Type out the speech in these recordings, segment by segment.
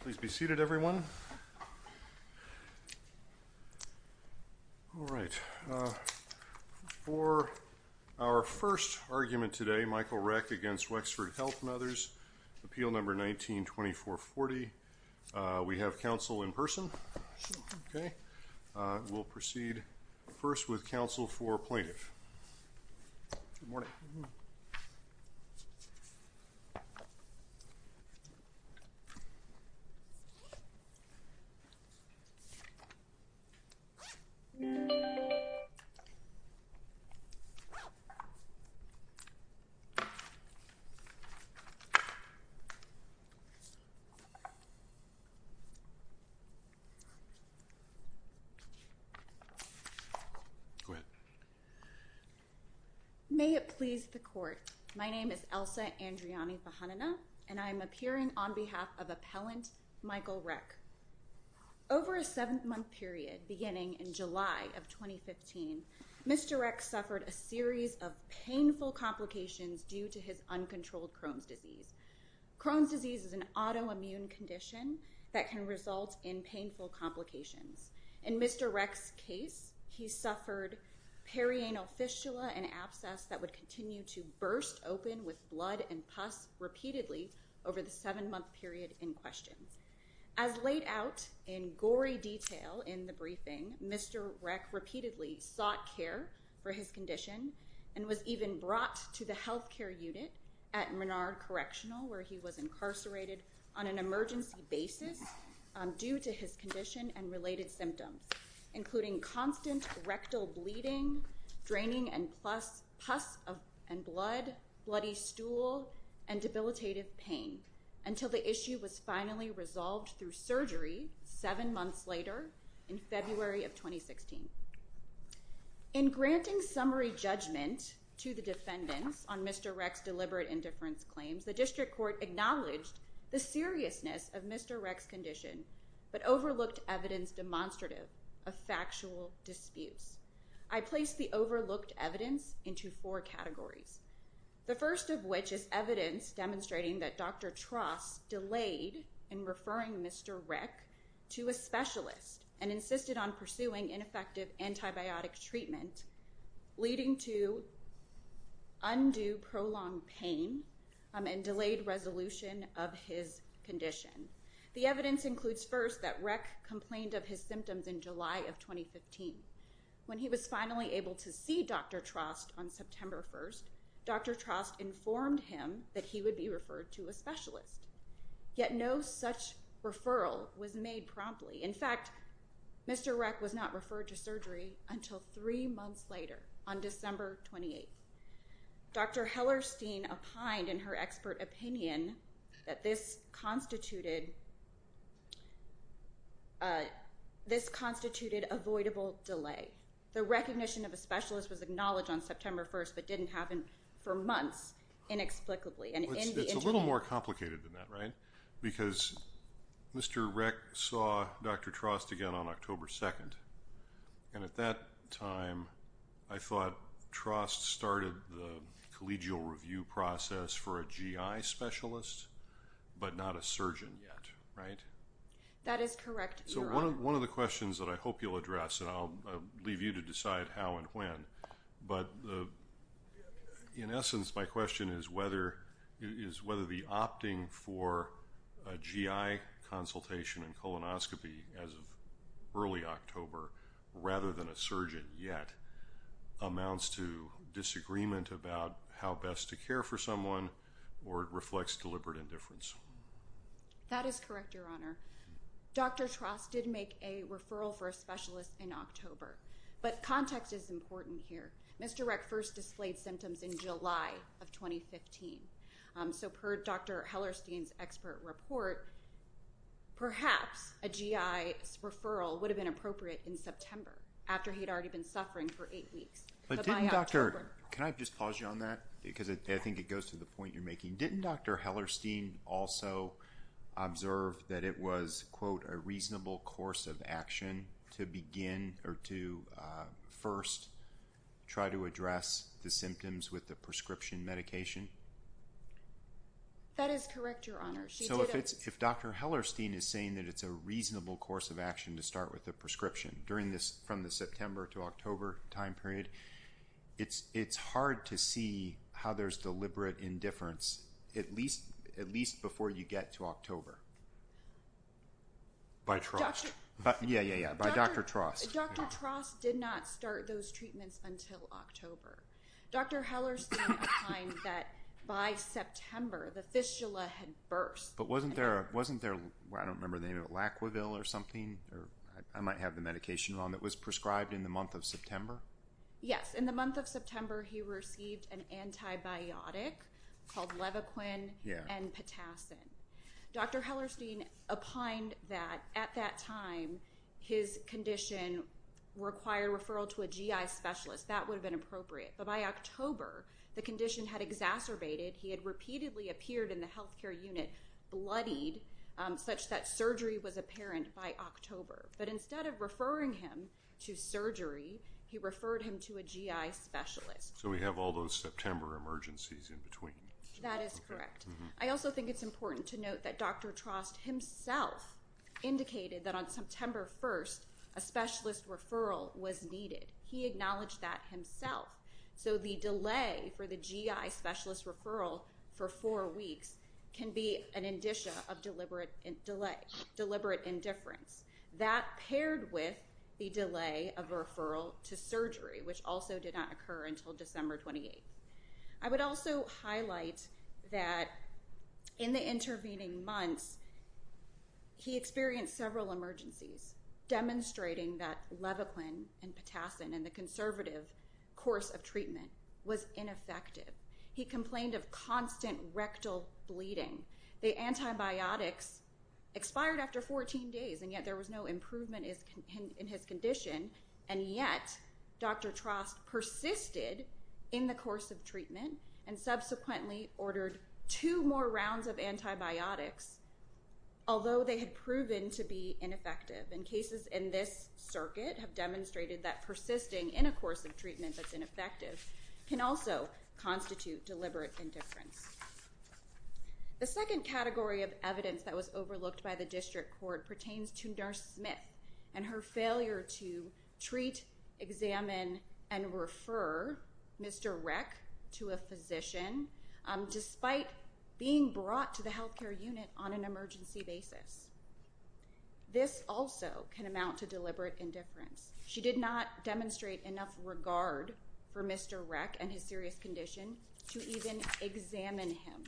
Please be seated everyone. All right, for our first argument today Michael Reck against Wexford Health and others, appeal number 19-2440. We have counsel in person. Okay we'll proceed first with counsel for plaintiff. May it please the court. My name is Elsa Andriani-Vahanana and I'm appearing on behalf of appellant Michael Reck. Over a seven-month period beginning in July of 2015, Mr. Reck suffered a series of painful complications due to his uncontrolled Crohn's disease. Crohn's disease is an autoimmune condition that can result in painful complications. In Mr. Reck's case, he suffered perianal fistula and abscess that would continue to burst open with blood and pus repeatedly over the seven-month period in question. As laid out in gory detail in the briefing, Mr. Reck repeatedly sought care for his condition and was even brought to the health care unit at Menard Correctional where he was incarcerated on an emergency basis due to his condition and related symptoms including constant rectal bleeding, draining and pus and blood, bloody stool, and debilitative pain until the issue was finally resolved through surgery seven months later in February of 2016. In granting summary judgment to the defendants on Mr. Reck's deliberate indifference claims, the district court acknowledged the seriousness of Mr. Reck's condition but overlooked evidence demonstrative of factual disputes. I placed the overlooked evidence into four categories. The first of which is evidence demonstrating that Dr. Trost delayed in referring Mr. Reck to a specialist and insisted on pursuing ineffective antibiotic treatment leading to undue prolonged pain and delayed resolution of his condition. The evidence includes first that Reck complained of his symptoms in July of 2015. When he was finally able to see Dr. Trost on September 1st, Dr. Trost informed him that he would be referred to a specialist. Yet no such referral was made promptly. In fact, Mr. Reck was not referred to surgery until three months later on December 28th. Dr. Hellerstein opined in her expert opinion that this constituted avoidable delay. The recognition of a specialist was acknowledged on September 1st but didn't happen for months inexplicably. It's a little more complicated than that, right? Because Mr. Reck saw Dr. Trost again on October 2nd and at that time I thought Trost started the collegial review process for a GI specialist but not a surgeon yet, right? That is correct. So one of the questions that I hope you'll address, and I'll leave you to decide how and when, but in essence my question is whether the opting for a GI consultation and colonoscopy as of early October rather than a surgeon yet amounts to disagreement about how best to care for someone or it reflects deliberate indifference. That is correct, Your Honor. Dr. Trost did make a referral for a specialist in October but context is important here. Mr. Reck first displayed symptoms in July of 2015. So per Dr. Hellerstein's expert report, perhaps a GI referral would have been appropriate in September after he'd already been suffering for eight weeks. But didn't Dr. – can I just pause you on that? Because I think it goes to the point you're making. Didn't Dr. Hellerstein also observe that it was, quote, a reasonable course of action to begin or to first try to address the symptoms with the prescription medication? That is correct, Your Honor. She did – So if Dr. Hellerstein is saying that it's a reasonable course of action to start with a prescription during this – from the September to October time period, it's hard to see how there's deliberate indifference at least before you get to October. By Trost. Yeah, yeah, yeah. By Dr. Trost. Dr. Trost did not start those treatments until October. Dr. Hellerstein declined that by September the fistula had burst. But wasn't there – I don't remember the name of it – Laquaville or something? I might have the medication wrong – that was prescribed in the month of September? Yes. In the month of September he received an antibiotic called Levaquin N-Potassin. Dr. Hellerstein opined that at that time his condition required referral to a GI specialist. That would have been appropriate. But by October the condition had exacerbated. He had repeatedly appeared in the health care unit bloodied such that surgery was apparent by October. But instead of referring him to surgery, he referred him to a GI specialist. So we have all those September emergencies in between. That is correct. I also think it's important to note that Dr. Trost himself indicated that on September 1st a specialist referral was needed. He acknowledged that himself. So the delay for the GI specialist referral for four weeks can be an indicia of deliberate delay – deliberate indifference. That paired with the delay of referral to surgery, which also did not occur until December 28th. I would also highlight that in the intervening months he experienced several emergencies demonstrating that Levaquin N-Potassin in the conservative course of treatment was ineffective. He complained of constant rectal bleeding. The antibiotics expired after 14 days and yet there was no improvement in his condition. And yet Dr. Trost persisted in the course of treatment and subsequently ordered two more rounds of antibiotics, although they had proven to be ineffective. And cases in this circuit have demonstrated that persisting in a course of treatment that's ineffective can also constitute deliberate indifference. The second category of evidence that was overlooked by the district court pertains to Nurse Smith and her failure to treat, examine, and refer Mr. Reck to a physician despite being brought to the health care unit on an emergency basis. This also can amount to deliberate indifference. She did not demonstrate enough regard for Mr. Reck and his serious condition to even examine him.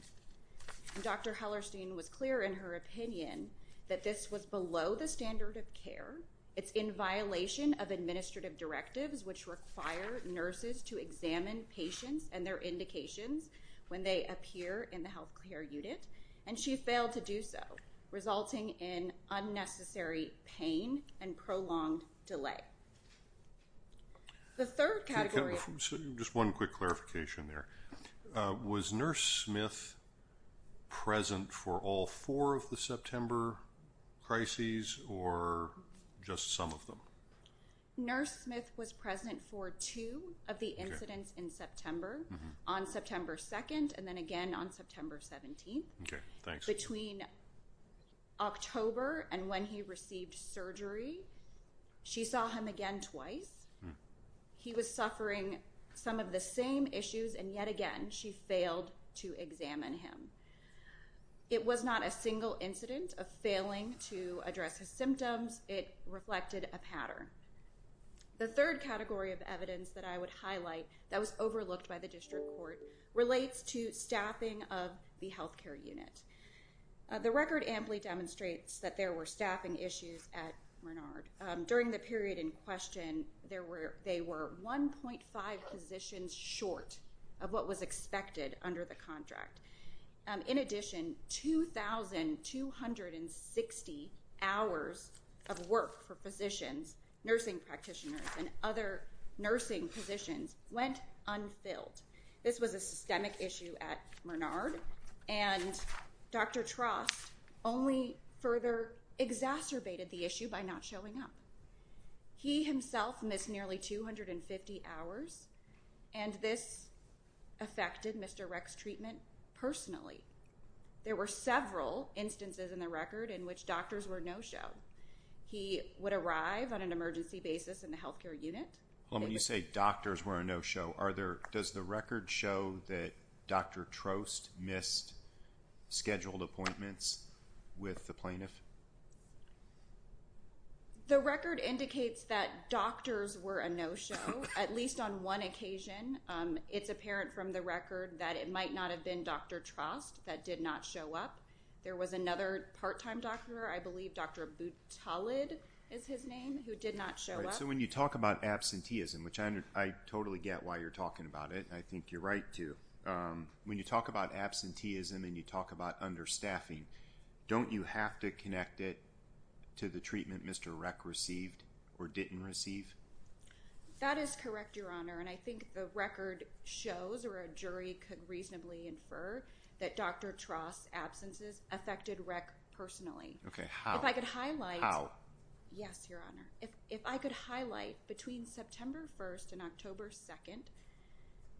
And Dr. Hellerstein was clear in her opinion that this was below the standard of care. It's in violation of administrative directives which require nurses to examine patients and their indications when they appear in the health care unit. And she failed to do so, resulting in unnecessary pain and prolonged delay. The third category of... Just one quick clarification there. Was Nurse Smith present for all four of the September crises or just some of them? Nurse Smith was present for two of the incidents in September, on September 2nd and then again on September 17th. Between October and when he received surgery, she saw him again twice. He was suffering some of the same issues and yet again she failed to examine him. It was not a single incident of failing to address his symptoms. It reflected a pattern. The third category of evidence that I would highlight that was overlooked by the district court relates to staffing of the health care unit. The record amply demonstrates that there were staffing issues at Menard. During the period in question, there were 1.5 positions short of what was expected under the contract. In addition, 2,260 hours of work for physicians, nursing practitioners and other nursing positions went unfilled. This was a systemic issue at Menard, and Dr. Trost only further exacerbated the issue by not showing up. He himself missed nearly 250 hours and this affected Mr. Reck's treatment personally. There were several instances in the record in which doctors were no show. He would arrive on an emergency basis in the health care unit. When you say doctors were a no show, does the record show that Dr. Trost missed scheduled appointments with the plaintiff? The record indicates that doctors were a no show, at least on one occasion. It's apparent from the record that it might not have been Dr. Trost that did not show up. There was another part-time doctor, I believe Dr. Boutalid is his name, who did not show up. So when you talk about absenteeism, which I totally get why you're talking about it, I think you're right too. When you talk about absenteeism and you talk about understaffing, don't you have to connect it to the treatment Mr. Reck received or didn't receive? That is correct, Your Honor, and I think the record shows, or a jury could reasonably infer, that Dr. Trost's absences affected Reck personally. Okay, how? If I could highlight... How? Yes, Your Honor. If I could highlight, between September 1st and October 2nd,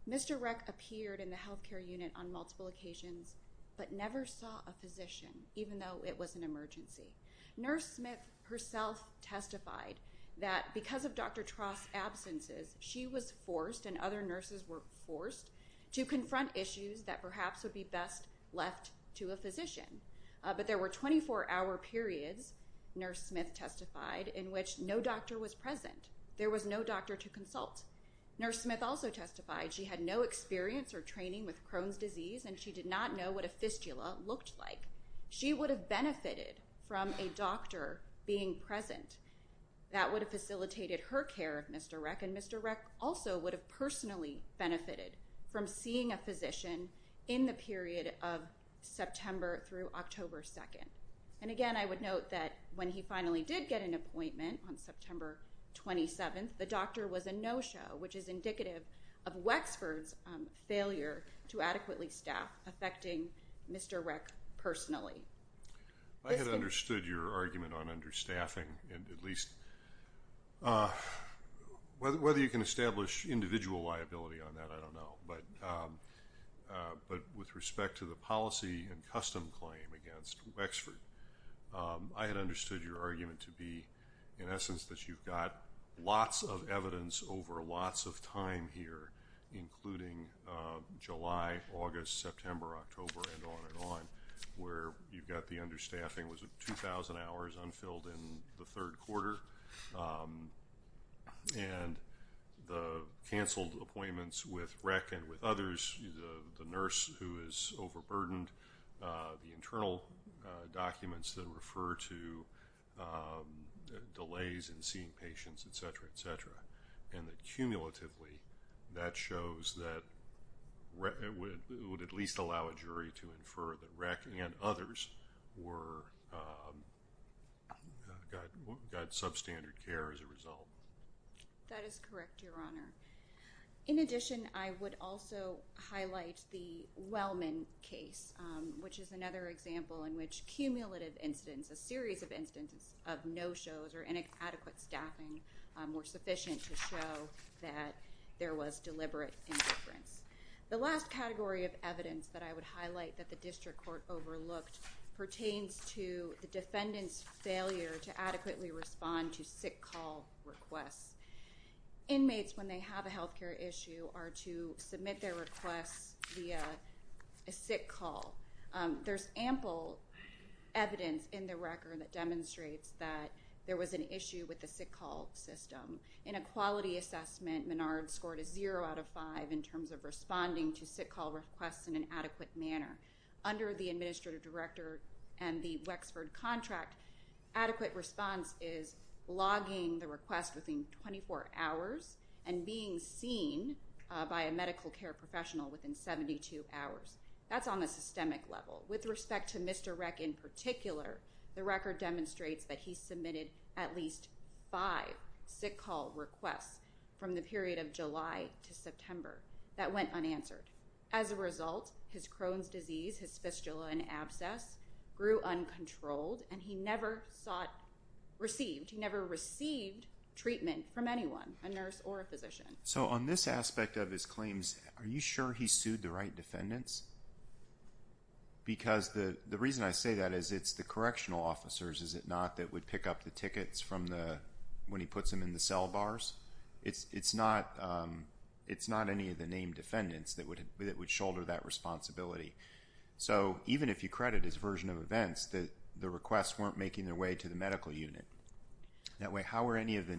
Mr. Reck appeared in the health care unit on multiple occasions, but never saw a physician, even though it was an emergency. Nurse Smith herself testified that because of Dr. Trost's absences, she was forced, and other nurses were forced, to confront issues that perhaps would be best left to a physician. But there were 24-hour periods, Nurse Smith testified, in which no doctor was present. There was no doctor to consult. Nurse Smith also testified she had no experience or training with Crohn's disease, and she did not know what a fistula looked like. She would have benefited from a doctor being present. That would have facilitated her care of Mr. Reck, and Mr. Reck also would have personally benefited from seeing a physician in the period of September through October 2nd. And again, I would note that when he finally did get an appointment on September 27th, the doctor was a no-show, which is indicative of Wexford's failure to adequately staff, affecting Mr. Reck personally. I had understood your argument on understaffing, and at least, whether you can establish individual liability on that, I don't know. But with respect to the policy and custom claim against Wexford, I had understood your argument to be, in essence, that you've got lots of evidence over lots of time here, including July, August, September, October, and on and on, where you've got the understaffing was 2,000 hours unfilled in the third quarter, and the canceled appointments with Reck and with others, the nurse who is overburdened, the internal documents that are in the cumulatively, that shows that it would at least allow a jury to infer that Reck and others got substandard care as a result. That is correct, Your Honor. In addition, I would also highlight the Wellman case, which is another example in which cumulative incidents, a series of incidents of no-shows or inadequate staffing were sufficient to show that there was deliberate indifference. The last category of evidence that I would highlight that the district court overlooked pertains to the defendant's failure to adequately respond to sick call requests. Inmates, when they have a health care issue, are to submit their requests via a sick call. There's ample evidence in the record that demonstrates that there was an issue with the sick call system. In a quality assessment, Menard scored a zero out of five in terms of responding to sick call requests in an adequate manner. Under the administrative director and the Wexford contract, adequate response is logging the request within 24 hours and being seen by a medical care professional within 72 hours. That's on the systemic level. With respect to Mr. Reck in particular, the record demonstrates that he submitted at least five sick call requests from the period of July to September that went unanswered. As a result, his Crohn's disease, his fistula and abscess grew uncontrolled and he never sought, received, he never received treatment from anyone, a nurse or a physician. So on this aspect of his claims, are you sure he sued the right defendants? Because the reason I say that is it's the correctional officers, is it not, that would pick up the tickets from the, when he puts them in the cell bars? It's not any of the named defendants that would shoulder that responsibility. So even if you credit his version of events, the requests weren't making their way to the medical unit. That way, how were any of the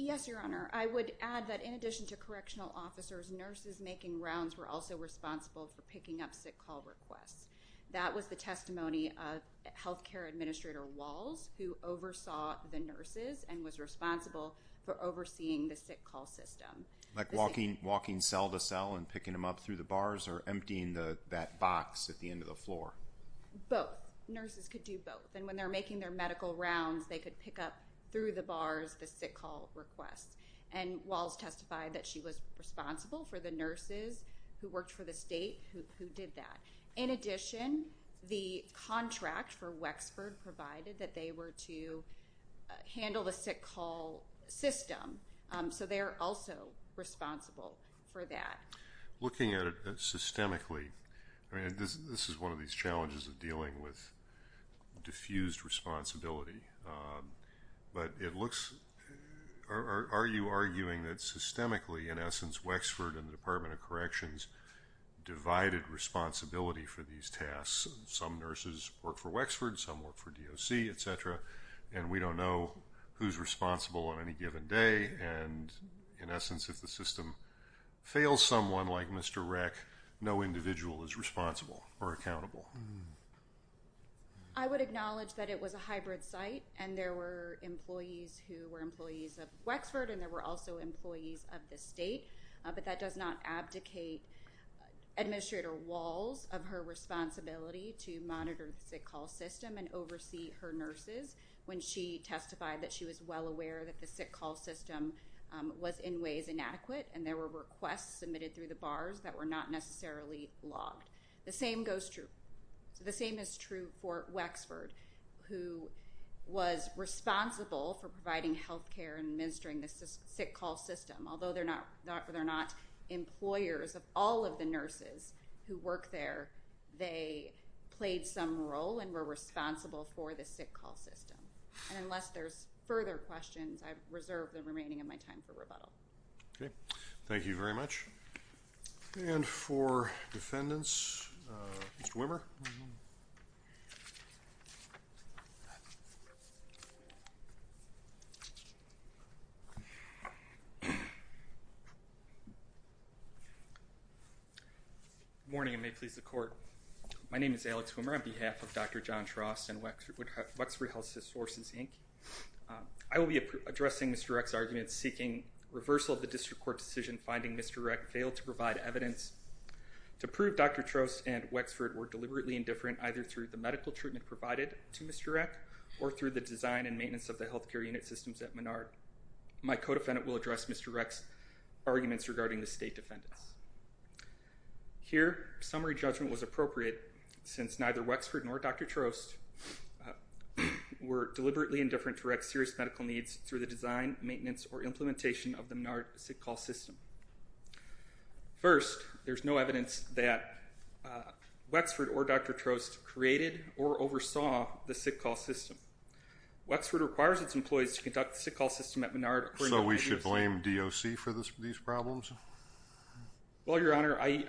Yes, Your Honor. I would add that in addition to correctional officers, nurses making rounds were also responsible for picking up sick call requests. That was the testimony of health care administrator Walls, who oversaw the nurses and was responsible for overseeing the sick call system. Like walking, walking cell to cell and picking them up through the bars or emptying the, that box at the end of the floor? Both. Nurses could do both. And when they're making their medical rounds, they could pick up through the bars, the sick call requests. And Walls testified that she was responsible for the nurses who worked for the state who did that. In addition, the contract for Wexford provided that they were to handle the sick call system. So they're also responsible for that. Looking at it systemically, I mean, this is one of these challenges of dealing with diffused responsibility. But it looks, are you arguing that systemically, in essence, Wexford and the Department of Corrections divided responsibility for these tasks? Some nurses work for Wexford, some work for DOC, et cetera. And we don't know who's responsible on any given day. And in essence, if the system fails someone like Mr. Rec, no individual is responsible or accountable. I would acknowledge that it was a hybrid site and there were employees who were employees of Wexford and there were also employees of the state. But that does not abdicate Administrator Walls of her responsibility to monitor the sick call system and oversee her nurses when she testified that she was well aware that the sick call system was in ways inadequate and there were requests submitted through the bars that were not necessarily logged. The same goes true, the same is true for Wexford who was responsible for providing health care and administering the sick call system. Although they're not employers of all of the nurses who work there, they played some role and were responsible for the sick call system. And unless there's further questions, I reserve the remaining of my time for rebuttal. Okay, thank you very much. And for defendants, Mr. Wimmer. Good morning and may it please the court. My name is Alex Wimmer on behalf of Dr. John Wimmer. In the course of the district court decision finding Mr. Reck failed to provide evidence to prove Dr. Trost and Wexford were deliberately indifferent either through the medical treatment provided to Mr. Reck or through the design and maintenance of the health care unit systems at Menard. My co-defendant will address Mr. Reck's arguments regarding the state defendants. Here, summary judgment was appropriate since neither Wexford nor Dr. Trost were deliberately indifferent to Reck's serious medical needs through the design, maintenance, or implementation of the Menard sick call system. First, there's no evidence that Wexford or Dr. Trost created or oversaw the sick call system. Wexford requires its employees to conduct the sick call system at Menard. So we should blame DOC for these problems? Well, your honor, I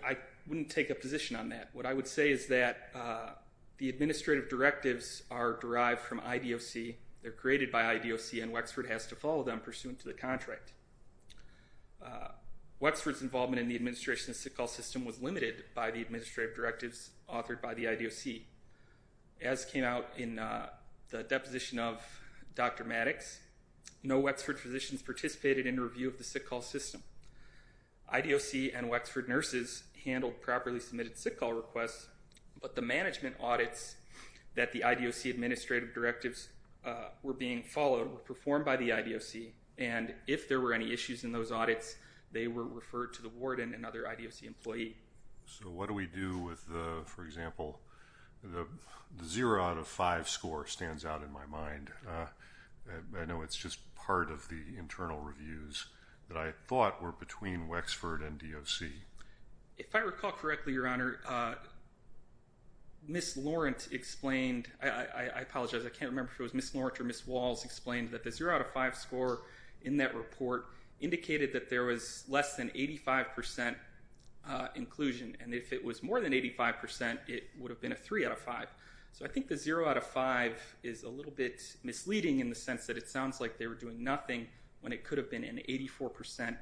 wouldn't take a position on that. What I would say is that the administrative directives are derived from IDOC. They're created by IDOC and Wexford has to comply pursuant to the contract. Wexford's involvement in the administration of the sick call system was limited by the administrative directives authored by the IDOC. As came out in the deposition of Dr. Maddox, no Wexford physicians participated in review of the sick call system. IDOC and Wexford nurses handled properly submitted sick call requests, but the management audits that the IDOC administrative directives were being followed were performed by the IDOC, and if there were any issues in those audits, they were referred to the warden and other IDOC employee. So what do we do with the, for example, the zero out of five score stands out in my mind. I know it's just part of the internal reviews that I thought were between Wexford and DOC. If I recall correctly, your honor, Ms. Laurent explained, I apologize, I can't remember if it was Ms. Laurent or Ms. Walls explained that the zero out of five score in that report indicated that there was less than 85 percent inclusion, and if it was more than 85 percent, it would have been a three out of five. So I think the zero out of five is a little bit misleading in the sense that it sounds like they were doing nothing when it could have been an 84 percent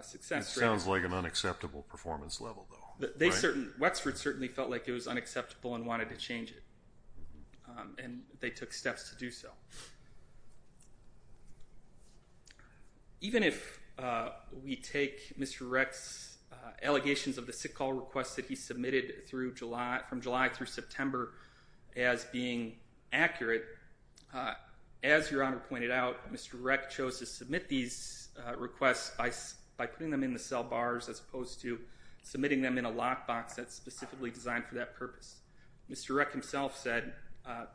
success rate. It sounds like an unacceptable performance level though. They certainly, Wexford certainly felt like it was unacceptable and wanted to change it, and they took steps to do so. Even if we take Mr. Wreck's allegations of the sick call requests that he submitted through July, from July through September as being accurate, as your honor pointed out, Mr. Wreck chose to submit these requests by putting them in the cell bars as opposed to submitting them in a lockbox that's specifically designed for that purpose. Mr. Wreck himself said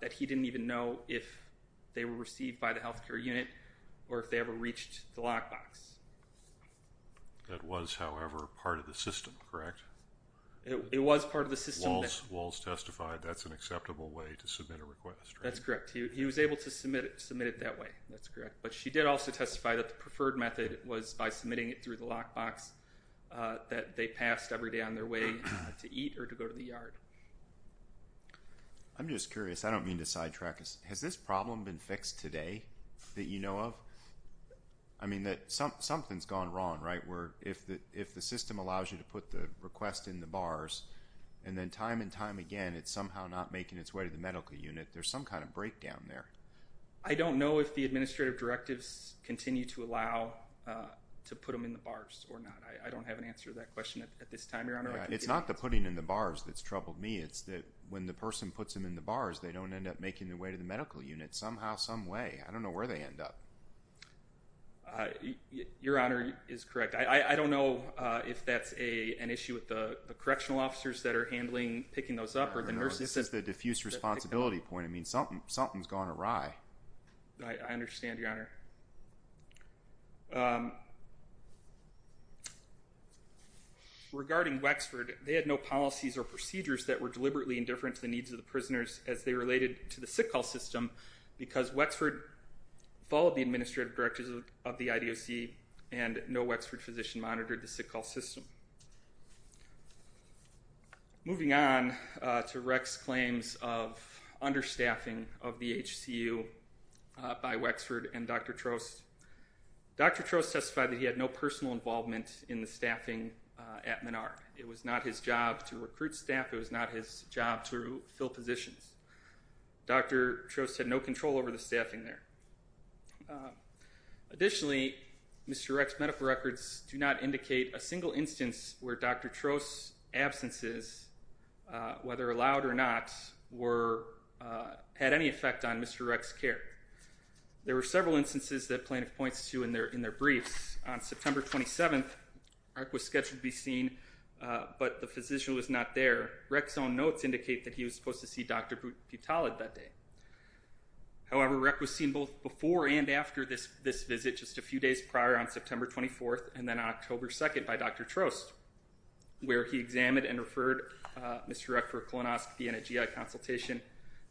that he didn't even know if they were received by the health care unit or if they ever reached the lockbox. That was, however, part of the system, correct? It was part of the system. Walls testified that's an acceptable way to submit a request. That's correct. He was able to submit it that way, that's correct, but she did also testify that the preferred method was by submitting it through the lockbox that they passed every day on their way to eat or to go to the yard. I'm just curious, I don't mean to sidetrack, has this problem been fixed today that you know of? I mean that something's gone wrong, right? Where if the system allows you to put the request in the bars and then time and time again it's somehow not making its way to the medical unit, there's some kind of breakdown there. I don't know if the administrative directives continue to allow to put them in the bars or not. I don't have an answer to that question at this time, Your Honor. It's not the putting in the bars that's troubled me, it's that when the person puts them in the bars they don't end up making their way to the medical unit somehow, some way. I don't know where they end up. Your Honor is correct. I don't know if that's an issue with the correctional officers that are handling picking those up or the nurses. This is the responsibility point. I mean something's gone awry. I understand, Your Honor. Regarding Wexford, they had no policies or procedures that were deliberately indifferent to the needs of the prisoners as they related to the sick call system because Wexford followed the administrative directives of the IDOC and no Wexford physician monitored the sick call system. Moving on to Rex's claims of understaffing of the HCU by Wexford and Dr. Trost. Dr. Trost testified that he had no personal involvement in the staffing at Menard. It was not his job to recruit staff. It was not his job to fill positions. Dr. Trost had no control over the staffing there. Additionally, Mr. Rex's medical records do not indicate a single instance where Dr. Trost's absences, whether allowed or not, had any effect on Mr. Rex's care. There were several instances that plaintiff points to in their briefs. On September 27th, Rex was scheduled to be seen but the physician was not there. Rex's own notes indicate that he was supposed to see Dr. Putalid that day. However, Rex was seen both before and after this visit, just a few days prior on September 24th and then on October 2nd by Dr. Trost, where he examined and referred Mr. Rex for a colonoscopy and a GI consultation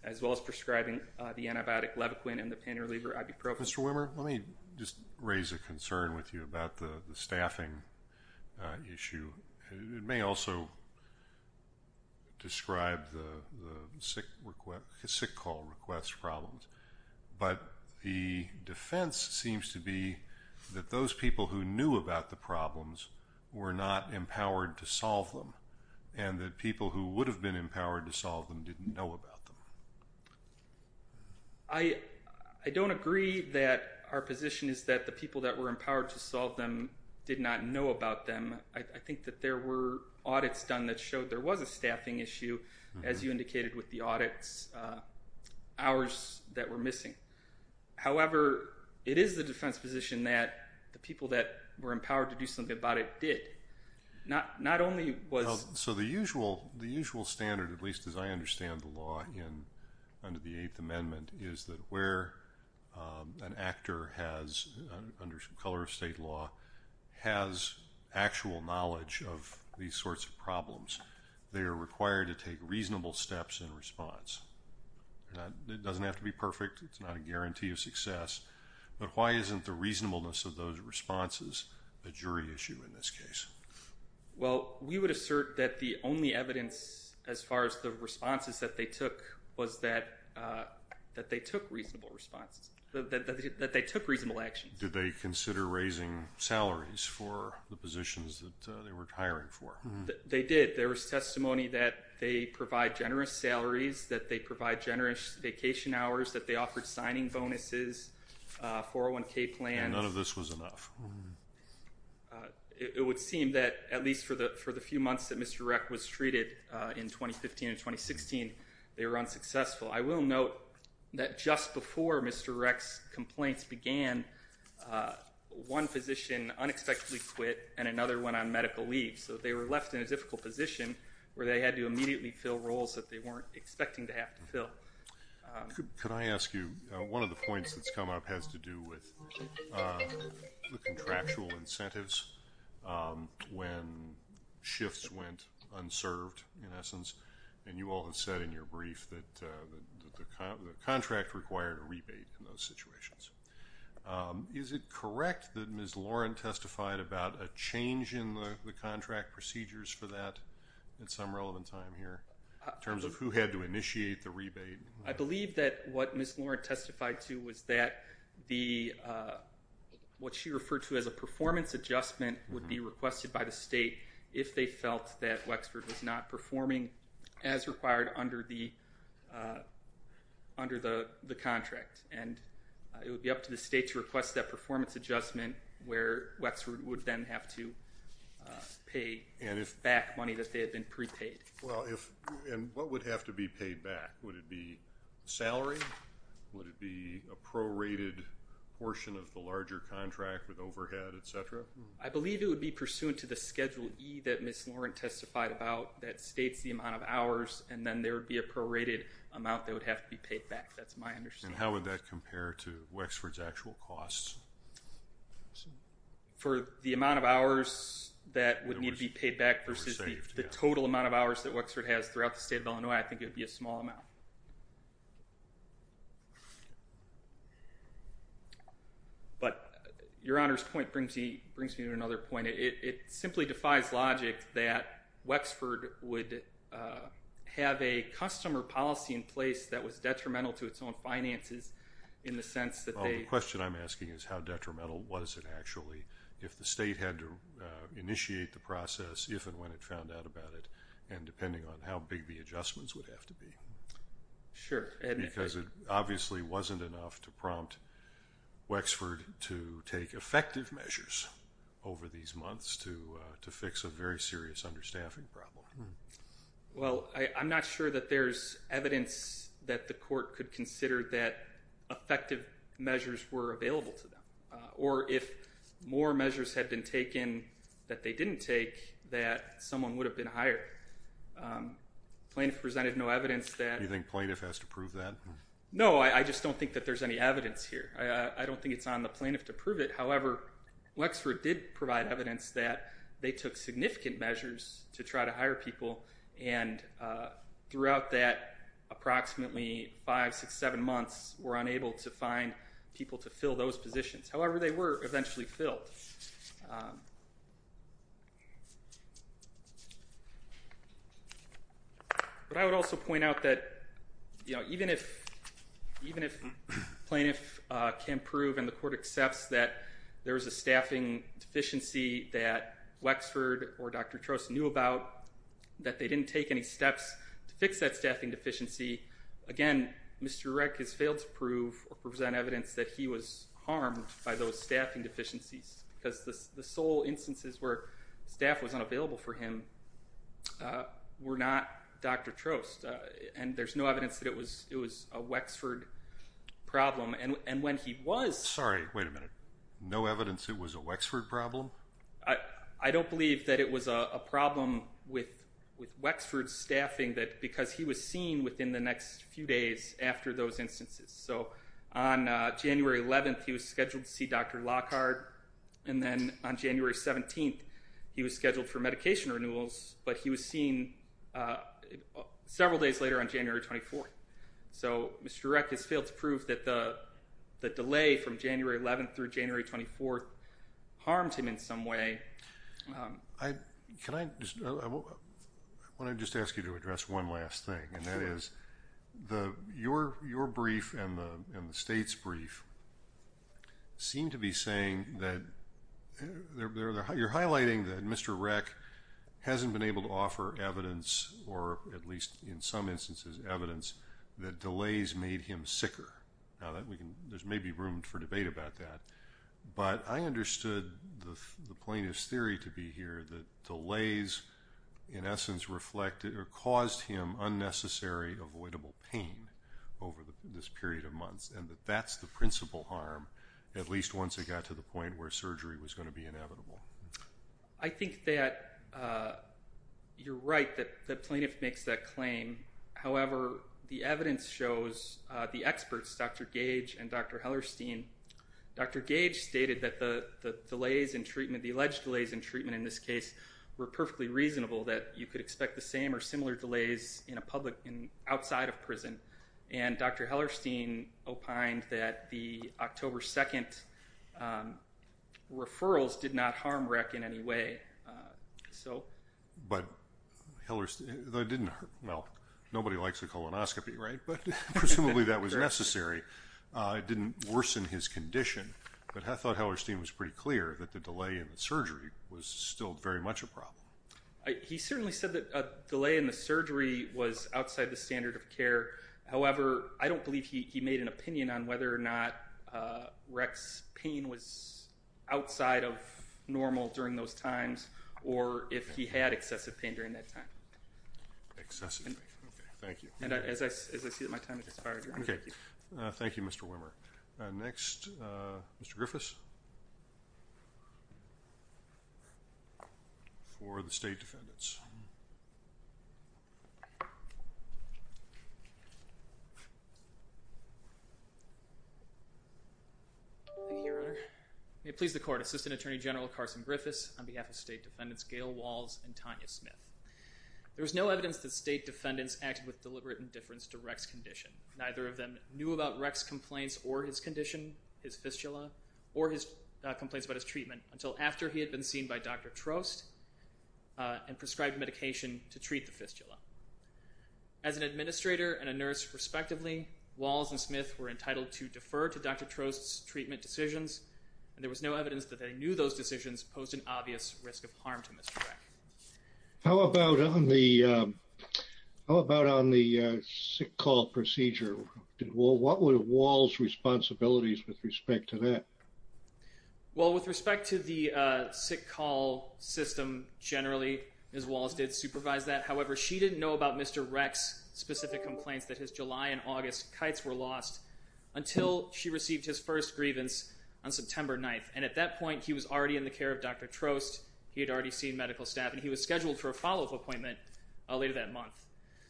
as well as prescribing the antibiotic Levaquin and the pain reliever ibuprofen. Mr. Wimmer, let me just raise a concern with you about the staffing issue. It may also describe the sick call request problems, but the defense seems to be that those people who knew about the problems were not empowered to solve them and that people who would have been empowered to solve them didn't know about them. I don't agree that our position is that the people that were empowered to solve them did not know about them. I think that there were audits done that showed there was a staffing issue, as you indicated with the audits, hours that were missing. However, it is the defense position that the people that were empowered to do something about it did. Not only was... Well, so the usual standard, at least as I understand the law under the Eighth Amendment, is that where an actor has, under some color of state law, has actual knowledge of these sorts of problems, they are required to take reasonable steps in response. It doesn't have to be perfect, it's not a guarantee of success, but why isn't the reasonableness of those responses a jury issue in this case? Well, we would assert that the only evidence as far as the responses that they took was that they took reasonable responses, that they took reasonable actions. Did they consider raising salaries for the positions that they were hiring for? They did. There was testimony that they provide generous salaries, that they provide generous vacation hours, that they offered signing bonuses, 401k plans. None of this was enough. It would seem that, at least for the few months that Mr. Reck was treated in 2015 and 2016, they were unsuccessful. I will note that just before Mr. Reck's complaints began, one physician unexpectedly quit and another went on medical leave. So they were left in a difficult position where they had to immediately fill roles that they weren't expecting to have to fill. Could I ask you, one of the points that's come up has to do with the contractual incentives when shifts went unserved, in essence, and you all have said in your brief that the contract required a rebate in those situations. Is it correct that Ms. Lauren testified about a change in the contract procedures for that at some relevant time here, in terms of who had to initiate the rebate? I believe that what Ms. Lauren testified to was that what she referred to as a performance adjustment would be requested by the state if they felt that Wexford was not performing as required under the contract, and it would be up to the state to request that performance adjustment where Wexford would then have to pay back money that they had been prepaid. Well, and what would have to be paid back? Would it be salary? Would it be a prorated portion of the larger contract with overhead, etc.? I believe it would be pursuant to the Schedule E that Ms. Lauren talked about that states the amount of hours, and then there would be a prorated amount that would have to be paid back. That's my understanding. And how would that compare to Wexford's actual costs? For the amount of hours that would need to be paid back versus the total amount of hours that Wexford has throughout the state of Illinois, I think it would be a small amount. But Your Honor's point brings me to another point. It simply defies logic that Wexford would have a customer policy in place that was detrimental to its own finances in the sense that they... Well, the question I'm asking is how detrimental was it actually if the state had to initiate the process, if and when it found out about it, and depending on how big the adjustments would have to be. Sure. Because it obviously wasn't enough to prompt Wexford to take effective measures over these months to fix a very serious understaffing problem. Well, I'm not sure that there's evidence that the court could consider that effective measures were available to them. Or if more measures had been taken that they didn't take, that someone would have been hired. Plaintiff presented no evidence that... You think plaintiff has to prove that? No, I just don't think that there's any evidence here. I don't think it's on the plaintiff to prove it. However, Wexford did provide evidence that they took significant measures to try to hire people and throughout that approximately five, six, seven months were unable to find people to fill those positions. However, they were eventually filled. But I would also point out that even if plaintiff can prove and the court accepts that there was a staffing deficiency that Wexford or Dr. Trost knew about, that they didn't take any steps to fix that staffing deficiency, again, Mr. Redkiss failed to prove or present evidence that he was harmed by those staffing deficiencies. Because the sole instances where staff was unavailable for him were not Dr. Trost. And there's no evidence that it was a Wexford problem. And when he was... Sorry, wait a minute. No evidence it was a Wexford problem? I don't believe that it was a problem with Wexford's staffing because he was seen within the next few days after those instances. So on January 11th, he was scheduled to see Dr. Lockhart. And then on January 17th, he was scheduled for medication renewals, but he was seen several days later on January 24th. So Mr. Redkiss failed to prove that the delay from January 11th through January 24th harmed him in some way. I want to just ask you to address one last thing. And that is your brief and the state's brief seem to be saying that... You're highlighting that Mr. or at least in some instances evidence that delays made him sicker. Now that we can... There's maybe room for debate about that. But I understood the plaintiff's theory to be here that delays in essence reflected or caused him unnecessary avoidable pain over this period of months. And that that's the principal harm, at least once it got to the point where surgery was going to be inevitable. I think that you're right that the plaintiff makes that claim. However, the evidence shows the experts, Dr. Gage and Dr. Hellerstein. Dr. Gage stated that the delays in treatment, the alleged delays in treatment in this case were perfectly reasonable that you could expect the same or similar delays in a public, outside of prison. And Dr. Hellerstein opined that the October 2nd referrals did not harm REC in any way. So... But Hellerstein... Well, nobody likes a colonoscopy, right? But presumably that was necessary. It didn't worsen his condition. But I thought Hellerstein was pretty clear that the delay in the surgery was still very much a problem. He certainly said that a delay in the surgery was outside the standard of care. However, I don't believe he made an opinion on whether or not REC's pain was outside of normal during those times or if he had excessive pain during that time. Excessive pain. Okay, thank you. And as I see that my time has expired... Okay. Thank you, Mr. Wimmer. Next, Mr. Griffiths. For the state defendants. Thank you, Your Honor. May it please the court. Assistant Attorney General Carson Griffiths on behalf of state defendants Gail Walls and Tanya Smith. There is no evidence that state defendants acted with deliberate indifference to REC's condition. Neither of them knew about REC's complaints or his condition, his fistula, or his complaints about his treatment until after he was discharged. As an administrator and a nurse respectively, Walls and Smith were entitled to defer to Dr. Trost's treatment decisions. And there was no evidence that they knew those decisions posed an obvious risk of harm to Mr. REC. How about on the sick call procedure? What were Walls' responsibilities with respect to that? Well, with respect to the sick call system generally, Ms. Walls did supervise that. However, she didn't know about Mr. REC's specific complaints that his July and August kites were lost until she received his first grievance on September 9th. And at that point, he was already in the care of Dr. Trost. He had already seen medical staff, and he was scheduled for a follow-up appointment later that month.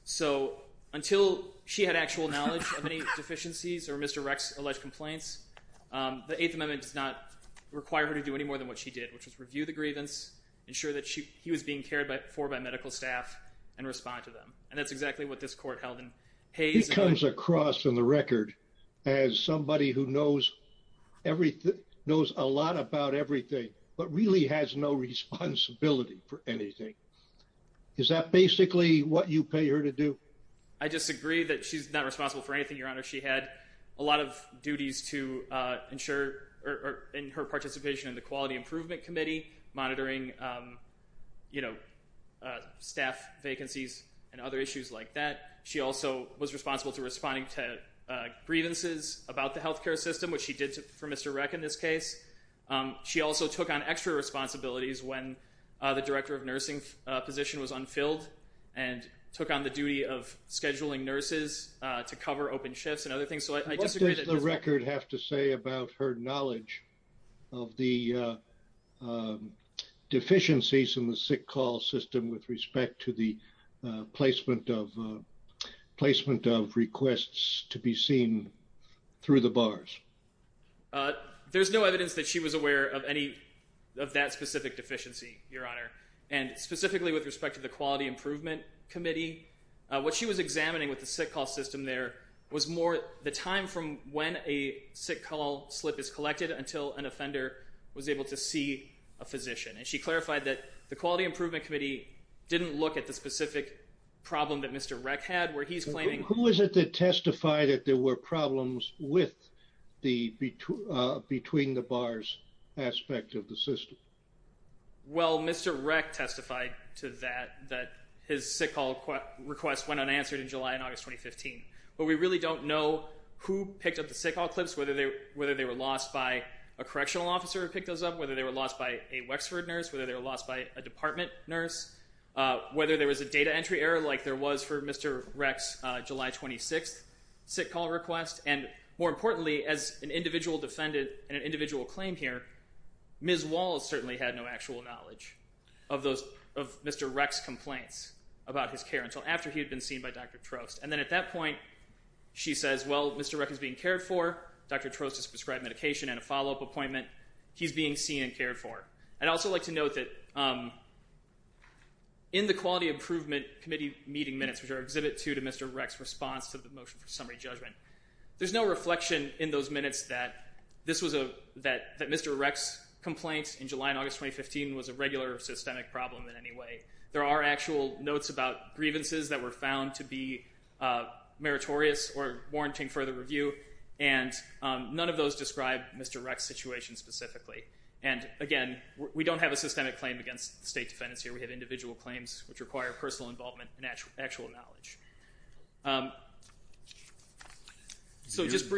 So until she had actual knowledge of any deficiencies or Mr. REC's alleged complaints, the Eighth Amendment does not require her to do any medical care. And that's exactly what this court held in Hays. She comes across on the record as somebody who knows a lot about everything, but really has no responsibility for anything. Is that basically what you pay her to do? I disagree that she's not responsible for anything, Your Honor. She had a lot of duties to ensure, in her participation in the Quality Improvement Committee, monitoring staff vacancies and other issues like that. She also was responsible to responding to grievances about the health care system, which she did for Mr. REC in this case. She also took on extra responsibilities when the director of nursing position was unfilled and took on the duty of scheduling nurses to cover open shifts and other things. What does the record have to say about her knowledge of the deficiencies in the sick call system with respect to the placement of requests to be seen through the bars? There's no evidence that she was aware of any of that specific deficiency, Your Honor. And specifically with respect to the Quality Improvement Committee, what she was aware of was the time from when a sick call slip is collected until an offender was able to see a physician. And she clarified that the Quality Improvement Committee didn't look at the specific problem that Mr. REC had, where he's claiming... Who is it that testified that there were problems between the bars aspect of the system? Well, Mr. REC testified to that, that his sick call request went unanswered in July and August 2015. But we really don't know who picked up the sick call clips, whether they were lost by a correctional officer who picked those up, whether they were lost by a Wexford nurse, whether they were lost by a department nurse, whether there was a data entry error like there was for Mr. REC's July 26th sick call request. And more importantly, as an individual defendant and an individual claim here, Ms. Walls certainly had no actual knowledge of Mr. REC's complaints about his care until after he had been seen by Dr. Trost. And then at that point, she says, well, Mr. REC is being cared for. Dr. Trost has prescribed medication and a follow-up appointment. He's being seen and cared for. I'd also like to note that in the Quality Improvement Committee meeting minutes, which are Exhibit 2 to Mr. REC's response to the motion for summary judgment, there's no reflection in those minutes that Mr. REC's complaint in July and August 2015 was a regular systemic problem in any way. There are actual notes about grievances that were found to be meritorious or warranting further review, and none of those describe Mr. REC's situation specifically. And again, we don't have a systemic claim against the state defendants here. We have individual claims which require personal involvement and actual knowledge. So just that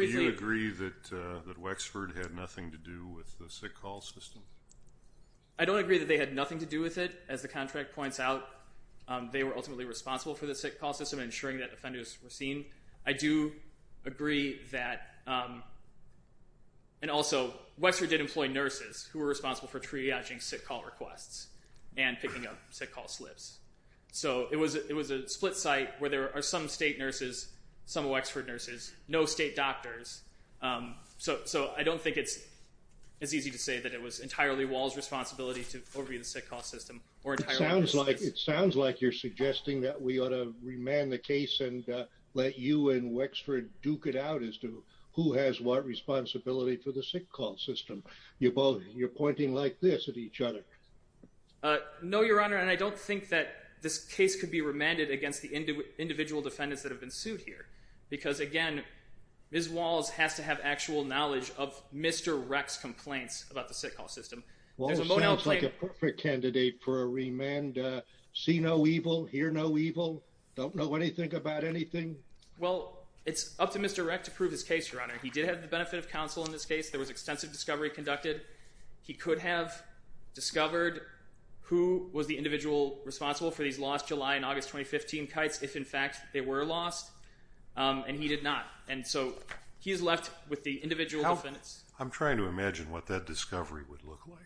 they had nothing to do with it. As the contract points out, they were ultimately responsible for the sick call system, ensuring that offenders were seen. I do agree that, and also, Wexford did employ nurses who were responsible for triaging sick call requests and picking up sick call slips. So it was a split site where there are some state nurses, some of Wexford nurses, no state doctors. So I don't think it's as easy to say that it was over the sick call system. It sounds like you're suggesting that we ought to remand the case and let you and Wexford duke it out as to who has what responsibility for the sick call system. You're both, you're pointing like this at each other. No, Your Honor, and I don't think that this case could be remanded against the individual defendants that have been sued here. Because again, Ms. Walls has to have actual knowledge of Mr. REC's complaints about the perfect candidate for a remand. See no evil, hear no evil, don't know anything about anything. Well, it's up to Mr. REC to prove his case, Your Honor. He did have the benefit of counsel in this case. There was extensive discovery conducted. He could have discovered who was the individual responsible for these lost July and August 2015 kites, if in fact they were lost. And he did not. And so he's left with the individual defendants. I'm trying to imagine what that discovery would look like.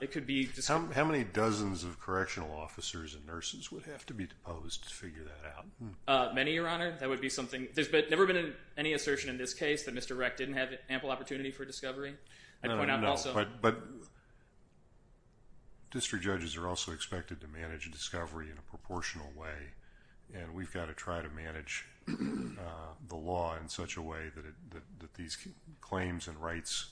It could be. How many dozens of correctional officers and nurses would have to be deposed to figure that out? Many, Your Honor. That would be something. There's never been any assertion in this case that Mr. REC didn't have ample opportunity for discovery. I'd point out also. But district judges are also expected to manage a discovery in a proportional way. And we've got to try to manage the law in such a way that these claims and rights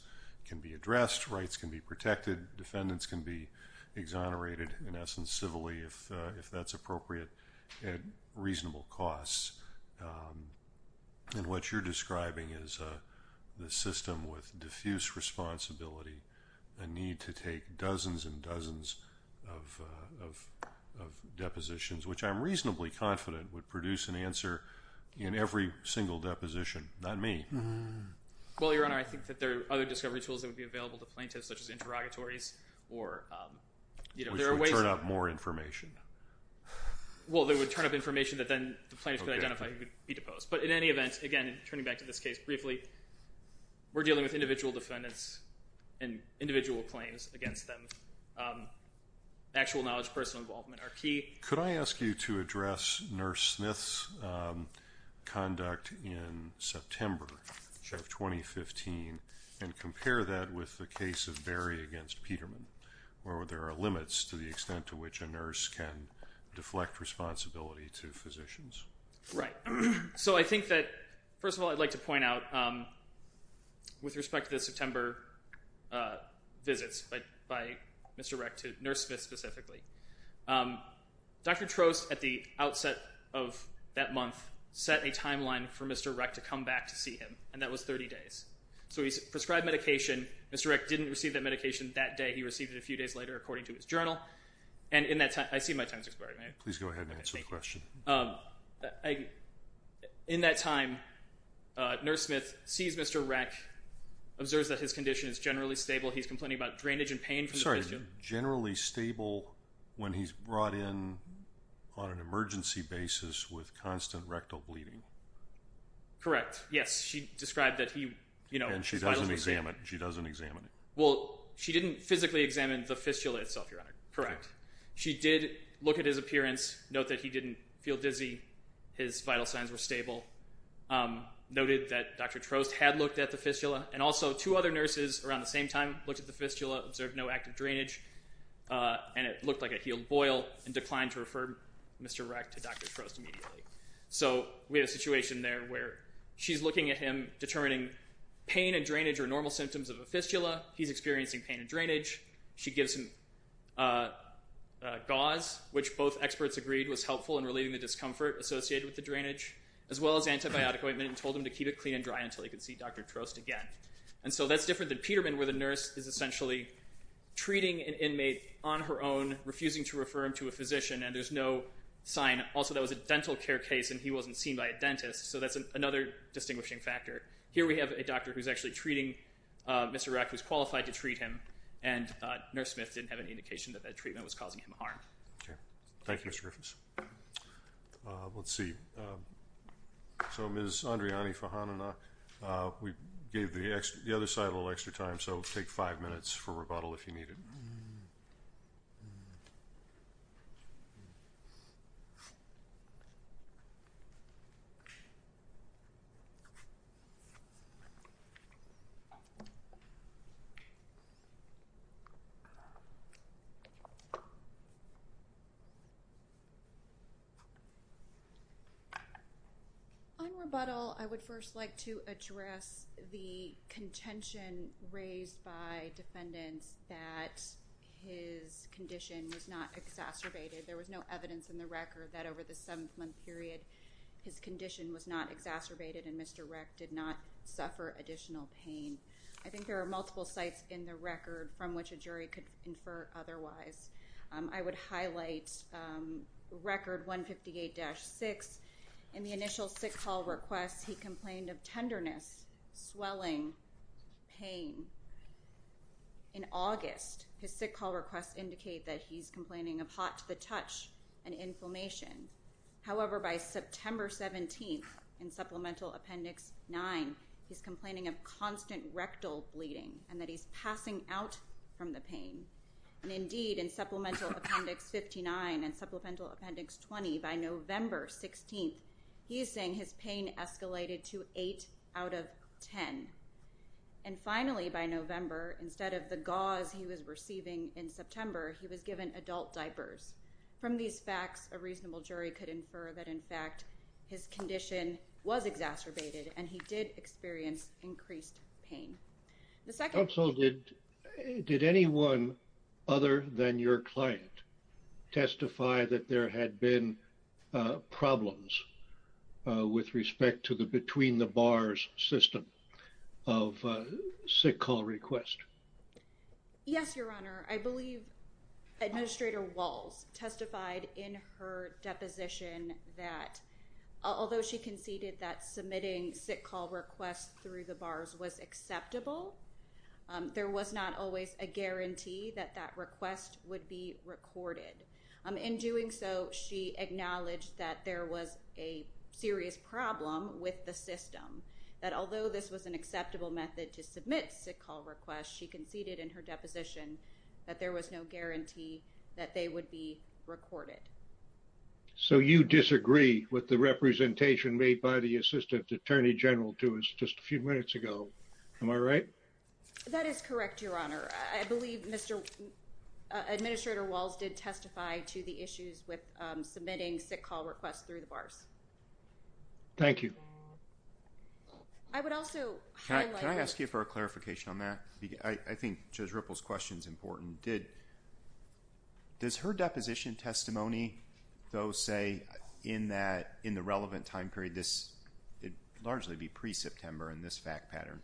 can be addressed, rights can be protected, defendants can be exonerated, in essence, civilly if that's appropriate at reasonable costs. And what you're describing is the system with diffuse responsibility, the need to take dozens and dozens of depositions, which I'm reasonably confident would produce an answer in every single deposition, not me. Well, Your Honor, I think that there are other discovery tools that would be available to plaintiffs, such as interrogatories. Which would turn up more information. Well, they would turn up information that then the plaintiff could identify who could be deposed. But in any event, again, turning back to this case briefly, we're dealing with individual defendants and individual claims against them. Actual knowledge, personal involvement are key. Could I ask you to address Nurse Smith's conduct in September of 2015 and compare that with the case of Berry against Peterman, where there are limits to the extent to which a nurse can deflect responsibility to physicians? Right. So I think that, first of all, I'd like to point out, with respect to the September visits by Mr. Reck to Nurse Smith specifically, Dr. Trost, at the outset of that month, set a timeline for Mr. Reck to come back to see him. And that was 30 days. So he prescribed medication. Mr. Reck didn't receive that medication that day. He received it a few days later, according to his journal. And in that time, I see my time's expiring. Please go ahead and answer the question. In that time, Nurse Smith sees Mr. Reck, observes that his condition is generally stable. He's complaining about drainage and pain from the fistula. Generally stable when he's brought in on an emergency basis with constant rectal bleeding. Correct. Yes. She described that he, you know, And she doesn't examine it. She doesn't examine it. Well, she didn't physically examine the fistula itself, Your Honor. Correct. She did look at his His vital signs were stable. Noted that Dr. Trost had looked at the fistula. And also, two other nurses around the same time looked at the fistula, observed no active drainage, and it looked like a healed boil, and declined to refer Mr. Reck to Dr. Trost immediately. So we have a situation there where she's looking at him, determining pain and drainage are normal symptoms of a fistula. He's experiencing pain and drainage. She gives him gauze, which both experts agreed was helpful in relieving the discomfort associated with the drainage, as well as antibiotic ointment, and told him to keep it clean and dry until he could see Dr. Trost again. And so that's different than Peterman, where the nurse is essentially treating an inmate on her own, refusing to refer him to a physician, and there's no sign. Also, that was a dental care case, and he wasn't seen by a dentist. So that's another distinguishing factor. Here we have a doctor who's actually treating Mr. Reck, who's qualified to treat him, and Nurse Smith didn't have any indication that that treatment was causing him harm. Thank you, Mr. Griffiths. Let's see. So Ms. Andriani Fahananak, we gave the other side a little extra time, so take five minutes for rebuttal if you need it. On rebuttal, I would first like to address the contention raised by defendants that his condition was not exacerbated. There was no evidence in the record that over the seven-month period his condition was not exacerbated and Mr. Reck did not suffer additional pain. I think there is a record, 158-6. In the initial sick call request, he complained of tenderness, swelling, pain. In August, his sick call requests indicate that he's complaining of hot to the touch and inflammation. However, by September 17th, in Supplemental Appendix 9, he's complaining of constant rectal bleeding and that he's passing out from the pain. And indeed, in Supplemental Appendix 59 and Supplemental Appendix 20, by November 16th, he is saying his pain escalated to 8 out of 10. And finally, by November, instead of the gauze he was receiving in September, he was given adult diapers. From these facts, a reasonable jury could infer that, in fact, his condition was exacerbated and he did experience increased pain. Counsel, did anyone other than your client testify that there had been problems with respect to the between-the-bars system of sick call request? Yes, Your Honor. I believe Administrator Walz testified in her deposition that, although she conceded that submitting sick call requests through the bars was acceptable, there was not always a guarantee that that request would be recorded. In doing so, she acknowledged that there was a serious problem with the system, that although this was an acceptable method to submit sick call requests, she conceded in her deposition that there was no guarantee that they would be recorded. So you disagree with the representation made by the Assistant Attorney General to us just a few minutes ago. Am I right? That is correct, Your Honor. I believe Mr. Administrator Walz did testify to the issues with submitting sick call requests through the bars. Thank you. I would also highlight... Can I ask you for a clarification on that? I think Judge Ripple's question is important. Does her deposition testimony, though, say in the relevant time period, this would largely be pre-September in this fact pattern,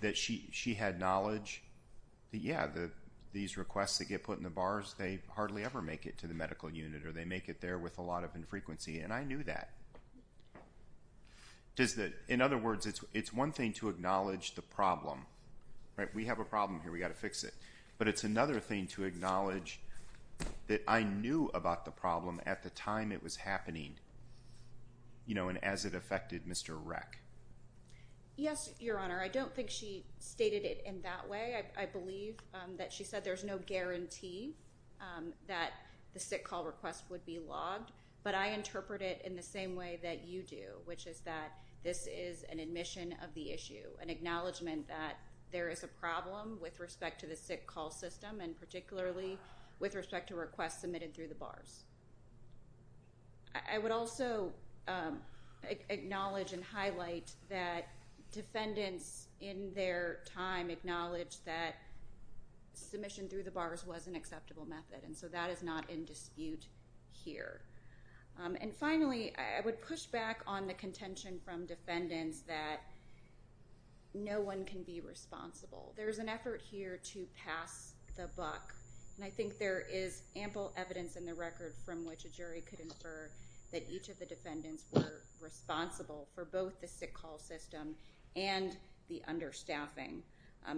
that she had knowledge that, yeah, these requests that get put in the bars, they hardly ever make it to the medical unit or they make it there with a lot of infrequency, and I knew that. In other words, it's one thing to acknowledge the problem, right? We have a problem here, we've got to fix it. But it's another thing to acknowledge that I knew about the problem at the time it was happening, you know, and as it affected Mr. Reck. Yes, Your Honor. I don't think she stated it in that way. I believe that she said there's no guarantee that the sick call request would be logged, but I interpret it in the same way that you do, which is that this is an admission of the issue, an acknowledgement that there is a problem with respect to the sick call system, and particularly with respect to requests submitted through the bars. I would also acknowledge and highlight that defendants in their time acknowledged that submission through the bars was an acceptable method, and so that is not in dispute here. And finally, I would push back on the contention from defendants that no one can be responsible. There is an effort here to pass the buck, and I think there is ample evidence in the record from which a jury could infer that each of the defendants were responsible for both the sick call system and the understaffing,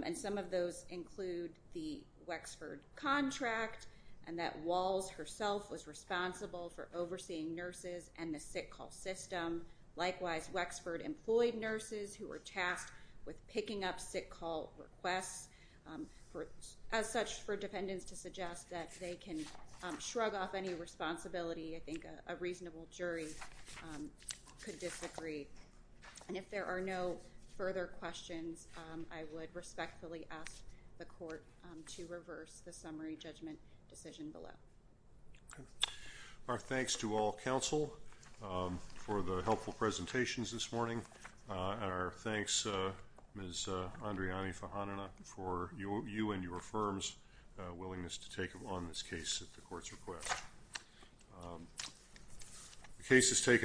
and some of those include the Wexford contract, and that Walls herself was responsible for overseeing nurses and the sick call system. Likewise, Wexford employed nurses who were tasked with picking up sick call requests, as such, for defendants to suggest that they can shrug off any responsibility. I think a reasonable jury could disagree. And if there are no further questions, I would respectfully ask the court to reverse the summary judgment decision below. Our thanks to all counsel for the helpful presentations this morning, and our thanks, Ms. Andriani Fahanana, for you and your firm's willingness to take on this case at the court's request. The case has taken